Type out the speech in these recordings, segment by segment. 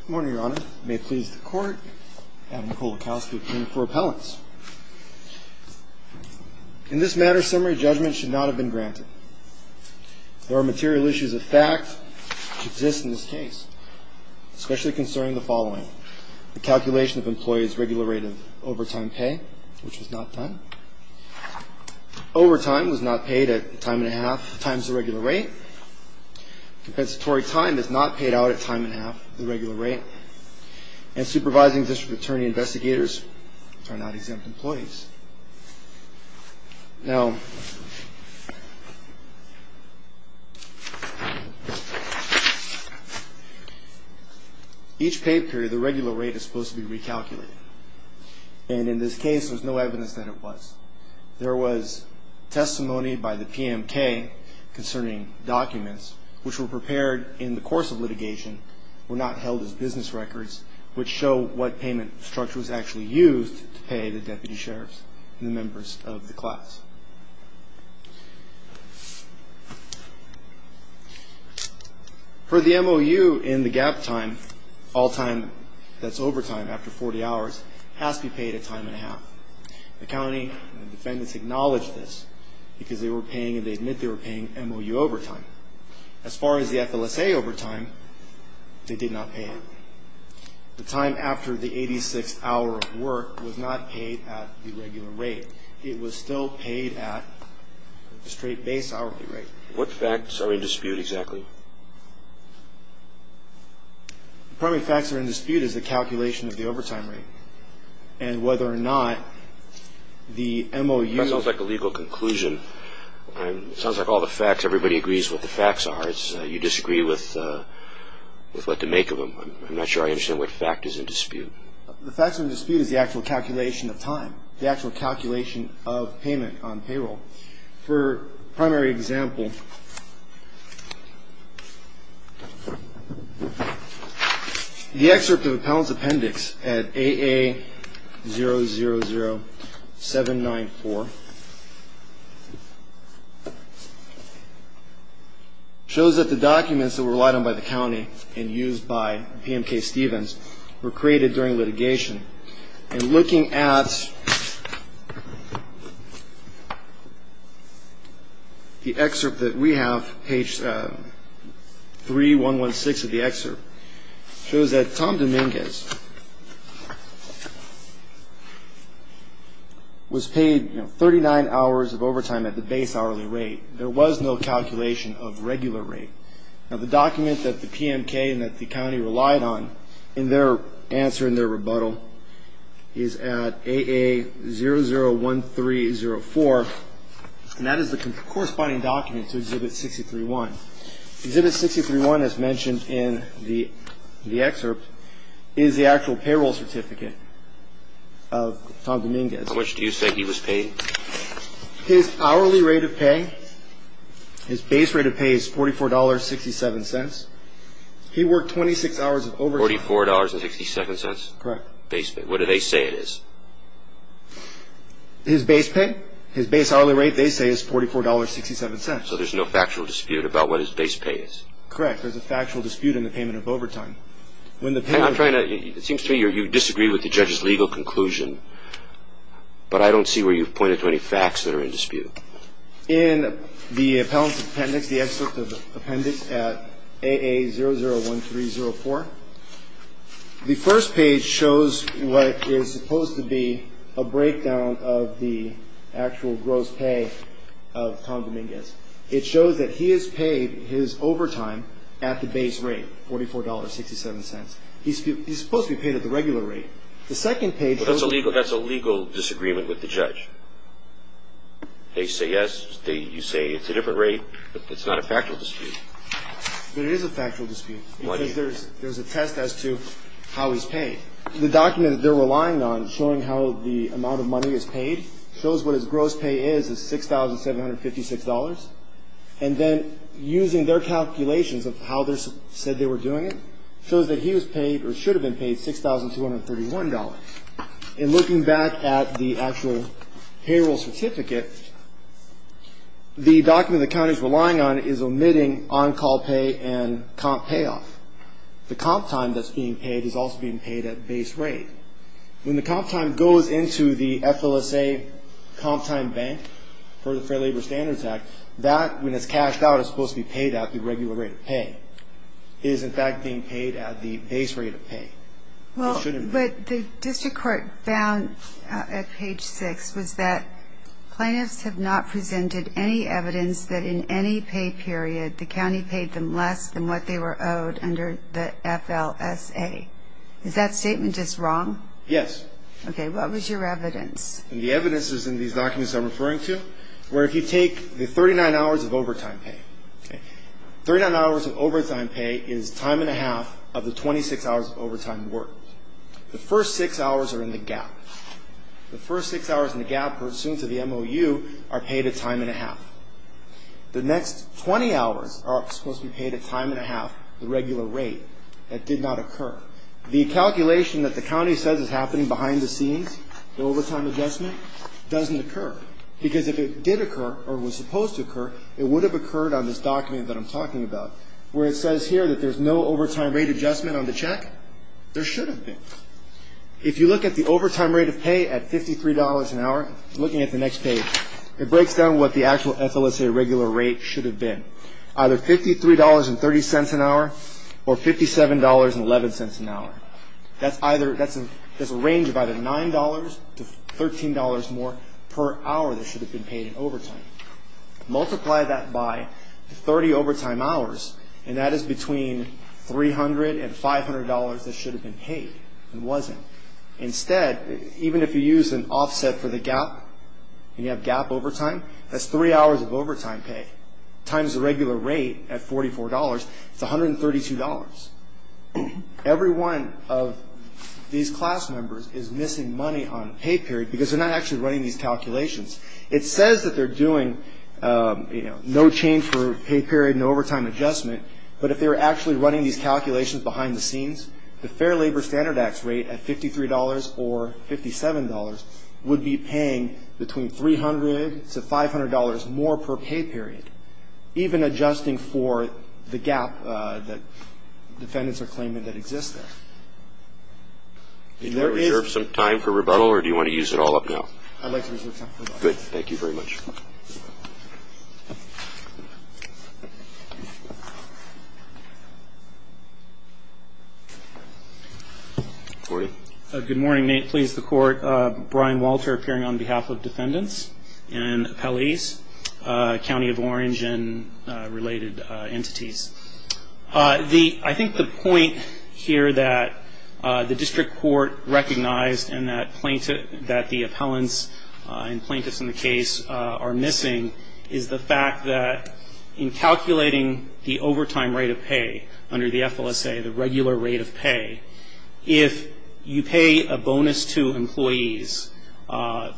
Good morning, Your Honor. May it please the Court, I have Nicola Kalski appearing for appellants. In this matter, summary judgment should not have been granted. There are material issues of fact that exist in this case, especially concerning the following. The calculation of employee's regular rate of overtime pay, which was not done. Overtime was not paid at the time and a half times the regular rate. Compensatory time is not paid out at time and a half, the regular rate. And supervising district attorney investigators are not exempt employees. Now, each pay period, the regular rate is supposed to be recalculated. And in this case, there's no evidence that it was. There was testimony by the PMK concerning documents, which were prepared in the course of litigation, were not held as business records, which show what payment structure was actually used to pay the deputy sheriffs and the members of the class. For the MOU in the gap time, all time that's overtime after 40 hours has to be paid at time and a half. The county defendants acknowledged this because they were paying and they admit they were paying MOU overtime. As far as the FLSA overtime, they did not pay it. The time after the 86th hour of work was not paid at the regular rate. It was still paid at the straight base hourly rate. What facts are in dispute exactly? The primary facts that are in dispute is the calculation of the overtime rate and whether or not the MOU. That sounds like a legal conclusion. It sounds like all the facts, everybody agrees what the facts are. You disagree with what to make of them. I'm not sure I understand what fact is in dispute. The facts in dispute is the actual calculation of time, the actual calculation of payment on payroll. For primary example, the excerpt of appellant's appendix at AA000794 shows that the documents that were relied on by the county and used by PMK Stevens were created during litigation. And looking at the excerpt that we have, page 3116 of the excerpt, shows that Tom Dominguez was paid 39 hours of overtime at the base hourly rate. There was no calculation of regular rate. Now, the document that the PMK and that the county relied on in their answer, in their rebuttal, is at AA001304, and that is the corresponding document to Exhibit 63-1. Exhibit 63-1, as mentioned in the excerpt, is the actual payroll certificate of Tom Dominguez. How much do you say he was paid? His hourly rate of pay, his base rate of pay is $44.67. He worked 26 hours of overtime. $44.62? Correct. Base pay. What do they say it is? His base pay? His base hourly rate, they say, is $44.67. So there's no factual dispute about what his base pay is? Correct. There's a factual dispute in the payment of overtime. It seems to me you disagree with the judge's legal conclusion, but I don't see where you've pointed to any facts that are in dispute. In the appellant's appendix, the excerpt of the appendix at AA001304, the first page shows what is supposed to be a breakdown of the actual gross pay of Tom Dominguez. It shows that he is paid his overtime at the base rate, $44.67. He's supposed to be paid at the regular rate. The second page shows... Well, that's a legal disagreement with the judge. They say yes. You say it's a different rate, but it's not a factual dispute. But it is a factual dispute because there's a test as to how he's paid. The document that they're relying on showing how the amount of money is paid shows what his gross pay is, is $6,756. And then using their calculations of how they said they were doing it shows that he was paid or should have been paid $6,231. And looking back at the actual payroll certificate, the document the county is relying on is omitting on-call pay and comp payoff. The comp time that's being paid is also being paid at base rate. When the comp time goes into the FLSA comp time bank for the Fair Labor Standards Act, that, when it's cashed out, is supposed to be paid at the regular rate of pay. It is, in fact, being paid at the base rate of pay. Well, but the district court found at page six was that plaintiffs have not presented any evidence that in any pay period, the county paid them less than what they were owed under the FLSA. Is that statement just wrong? Yes. Okay, what was your evidence? And the evidence is in these documents I'm referring to, where if you take the 39 hours of overtime pay, 39 hours of overtime pay is time and a half of the 26 hours of overtime worked. The first six hours are in the gap. The first six hours in the gap pursuant to the MOU are paid a time and a half. The next 20 hours are supposed to be paid a time and a half, the regular rate. That did not occur. The calculation that the county says is happening behind the scenes, the overtime adjustment, doesn't occur. Because if it did occur, or was supposed to occur, it would have occurred on this document that I'm talking about, where it says here that there's no overtime rate adjustment on the check. There should have been. If you look at the overtime rate of pay at $53 an hour, looking at the next page, it breaks down what the actual FLSA regular rate should have been. Either $53.30 an hour or $57.11 an hour. That's a range of either $9 to $13 more per hour that should have been paid in overtime. Multiply that by 30 overtime hours, and that is between $300 and $500 that should have been paid and wasn't. Instead, even if you use an offset for the gap, and you have gap overtime, that's three hours of overtime pay. Times the regular rate at $44, it's $132. Every one of these class members is missing money on pay period because they're not actually running these calculations. It says that they're doing no change for pay period, no overtime adjustment, but if they were actually running these calculations behind the scenes, the Fair Labor Standard Act's rate at $53 or $57 would be paying between $300 to $500 more per pay period, even adjusting for the gap that defendants are claiming that exists there. There is no time for rebuttal, or do you want to use it all up now? I'd like to reserve time for rebuttal. Good. Thank you very much. Gordy. Good morning, Nate. Please, the Court. Brian Walter appearing on behalf of defendants and appellees, County of Orange and related entities. I think the point here that the district court recognized and that the appellants and plaintiffs in the case are missing is the fact that in calculating the overtime rate of pay under the FLSA, the regular rate of pay, if you pay a bonus to employees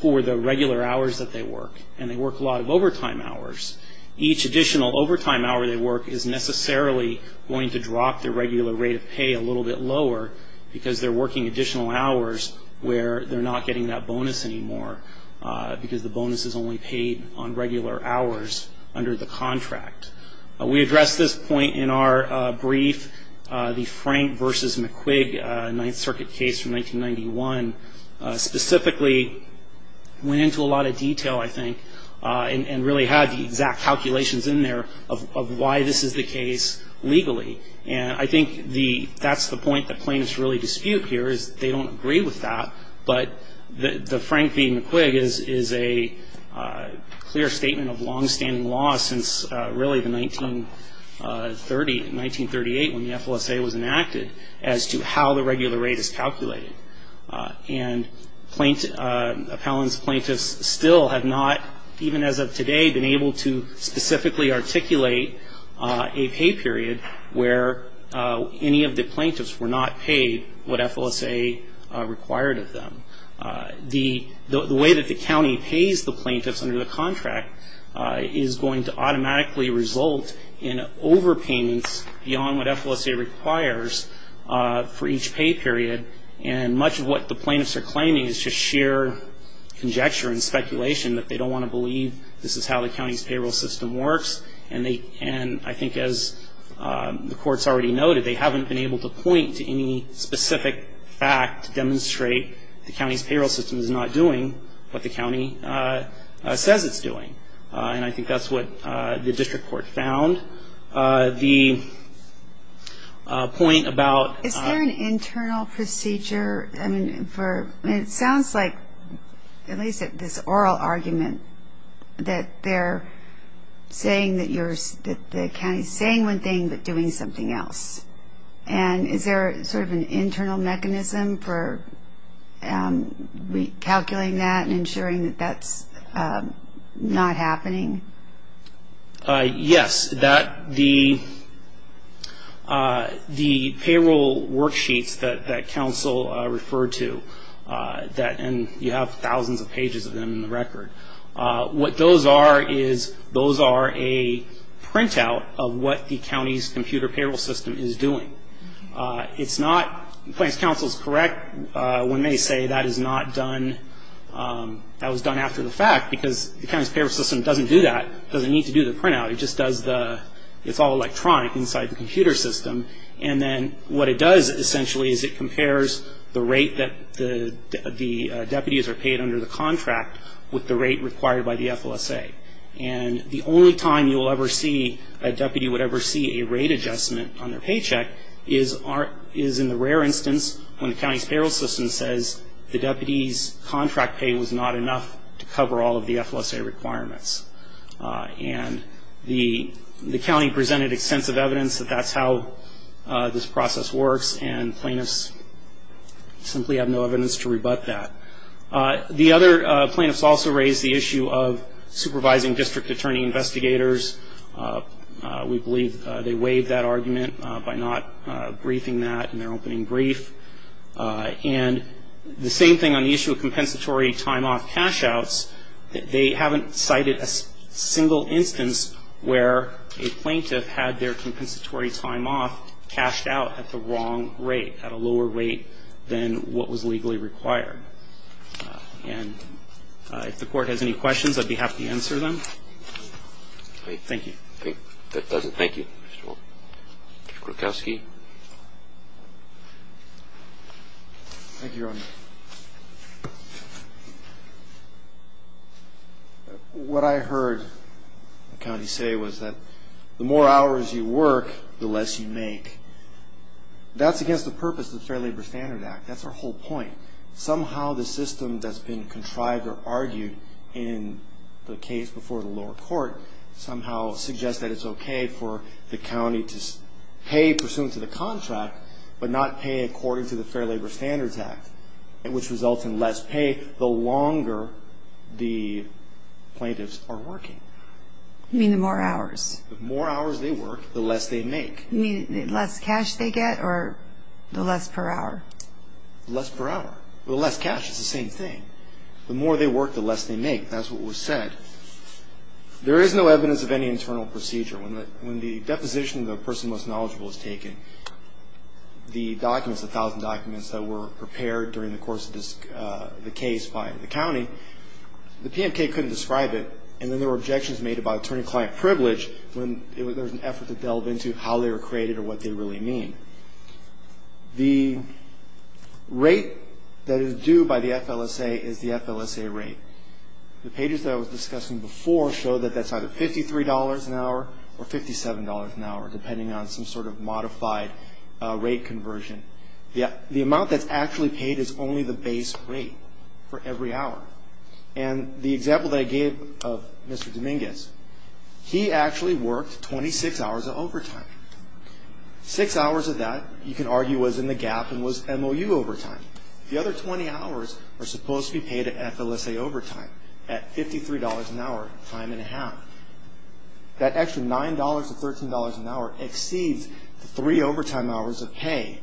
for the regular hours that they work, and they work a lot of overtime hours, each additional overtime hour they work is necessarily going to drop their regular rate of pay a little bit lower because they're working additional hours where they're not getting that bonus anymore because the bonus is only paid on regular hours under the contract. We addressed this point in our brief, the Frank v. McQuig, Ninth Circuit case from 1991, specifically went into a lot of detail, I think, and really had the exact calculations in there of why this is the case legally. And I think that's the point that plaintiffs really dispute here is they don't agree with that, but the Frank v. McQuig is a clear statement of longstanding law since really the 1930, 1938 when the FLSA was enacted as to how the regular rate is calculated. And appellants and plaintiffs still have not, even as of today, been able to specifically articulate a pay period where any of the plaintiffs were not paid beyond what FLSA required of them. The way that the county pays the plaintiffs under the contract is going to automatically result in overpayments beyond what FLSA requires for each pay period. And much of what the plaintiffs are claiming is just sheer conjecture and speculation that they don't want to believe this is how the county's payroll system works. And I think as the court's already noted, they haven't been able to point to any specific fact to demonstrate the county's payroll system is not doing what the county says it's doing. And I think that's what the district court found. The point about — Is there an internal procedure for — it sounds like, at least at this oral argument, that they're saying that the county's saying one thing but doing something else. And is there sort of an internal mechanism for recalculating that and ensuring that that's not happening? Yes. The payroll worksheets that counsel referred to, and you have thousands of pages of them in the record, what those are is those are a printout of what the county's computer payroll system is doing. It's not — the plaintiff's counsel is correct when they say that is not done — that was done after the fact because the county's payroll system doesn't do that. It doesn't need to do the printout. It just does the — it's all electronic inside the computer system. And then what it does essentially is it compares the rate that the deputies are paid under the contract with the rate required by the FLSA. And the only time you will ever see — a deputy would ever see a rate adjustment on their paycheck is in the rare instance when the county's payroll system says the deputy's contract pay was not enough to cover all of the FLSA requirements. And the county presented extensive evidence that that's how this process works, and plaintiffs simply have no evidence to rebut that. The other plaintiffs also raised the issue of supervising district attorney investigators. We believe they waived that argument by not briefing that in their opening brief. And the same thing on the issue of compensatory time-off cash-outs. They haven't cited a single instance where a plaintiff had their compensatory time-off cashed out at the wrong rate, at a lower rate than what was legally required. And if the court has any questions, I'd be happy to answer them. Thank you. Thank you. That does it. Thank you. Mr. Krukowski. Thank you, Your Honor. What I heard the county say was that the more hours you work, the less you make. That's against the purpose of the Fair Labor Standard Act. That's our whole point. Somehow the system that's been contrived or argued in the case before the lower court somehow suggests that it's okay for the county to pay pursuant to the contract, but not pay according to the Fair Labor Standards Act, which results in less pay the longer the plaintiffs are working. You mean the more hours? The more hours they work, the less they make. You mean the less cash they get, or the less per hour? Less per hour. Well, the less cash is the same thing. The more they work, the less they make. That's what was said. There is no evidence of any internal procedure. When the deposition of the person most knowledgeable is taken, the documents, the 1,000 documents that were prepared during the course of the case by the county, the PMK couldn't describe it, and then there were objections made about attorney-client privilege when there was an effort to delve into how they were created or what they really mean. The rate that is due by the FLSA is the FLSA rate. The pages that I was discussing before show that that's either $53 an hour or $57 an hour, depending on some sort of modified rate conversion. The amount that's actually paid is only the base rate for every hour. And the example that I gave of Mr. Dominguez, he actually worked 26 hours of overtime. Six hours of that, you can argue, was in the gap and was MOU overtime. The other 20 hours are supposed to be paid at FLSA overtime at $53 an hour, time and a half. That extra $9 to $13 an hour exceeds the three overtime hours of pay.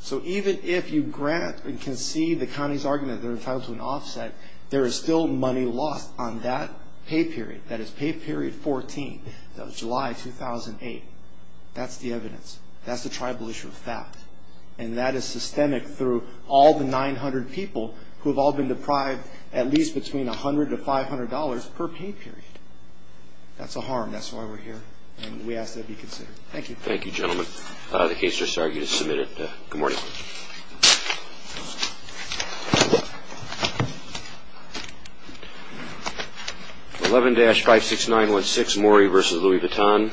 So even if you grant and concede the county's argument that they're entitled to an offset, there is still money lost on that pay period. That is pay period 14. That was July 2008. That's the evidence. That's the tribal issue of fact. And that is systemic through all the 900 people who have all been deprived at least between $100 to $500 per pay period. That's a harm. That's why we're here. And we ask that it be considered. Thank you. Thank you, gentlemen. The case just started. You can submit it. Good morning. 11-56916, Morey v. Louis Vuitton.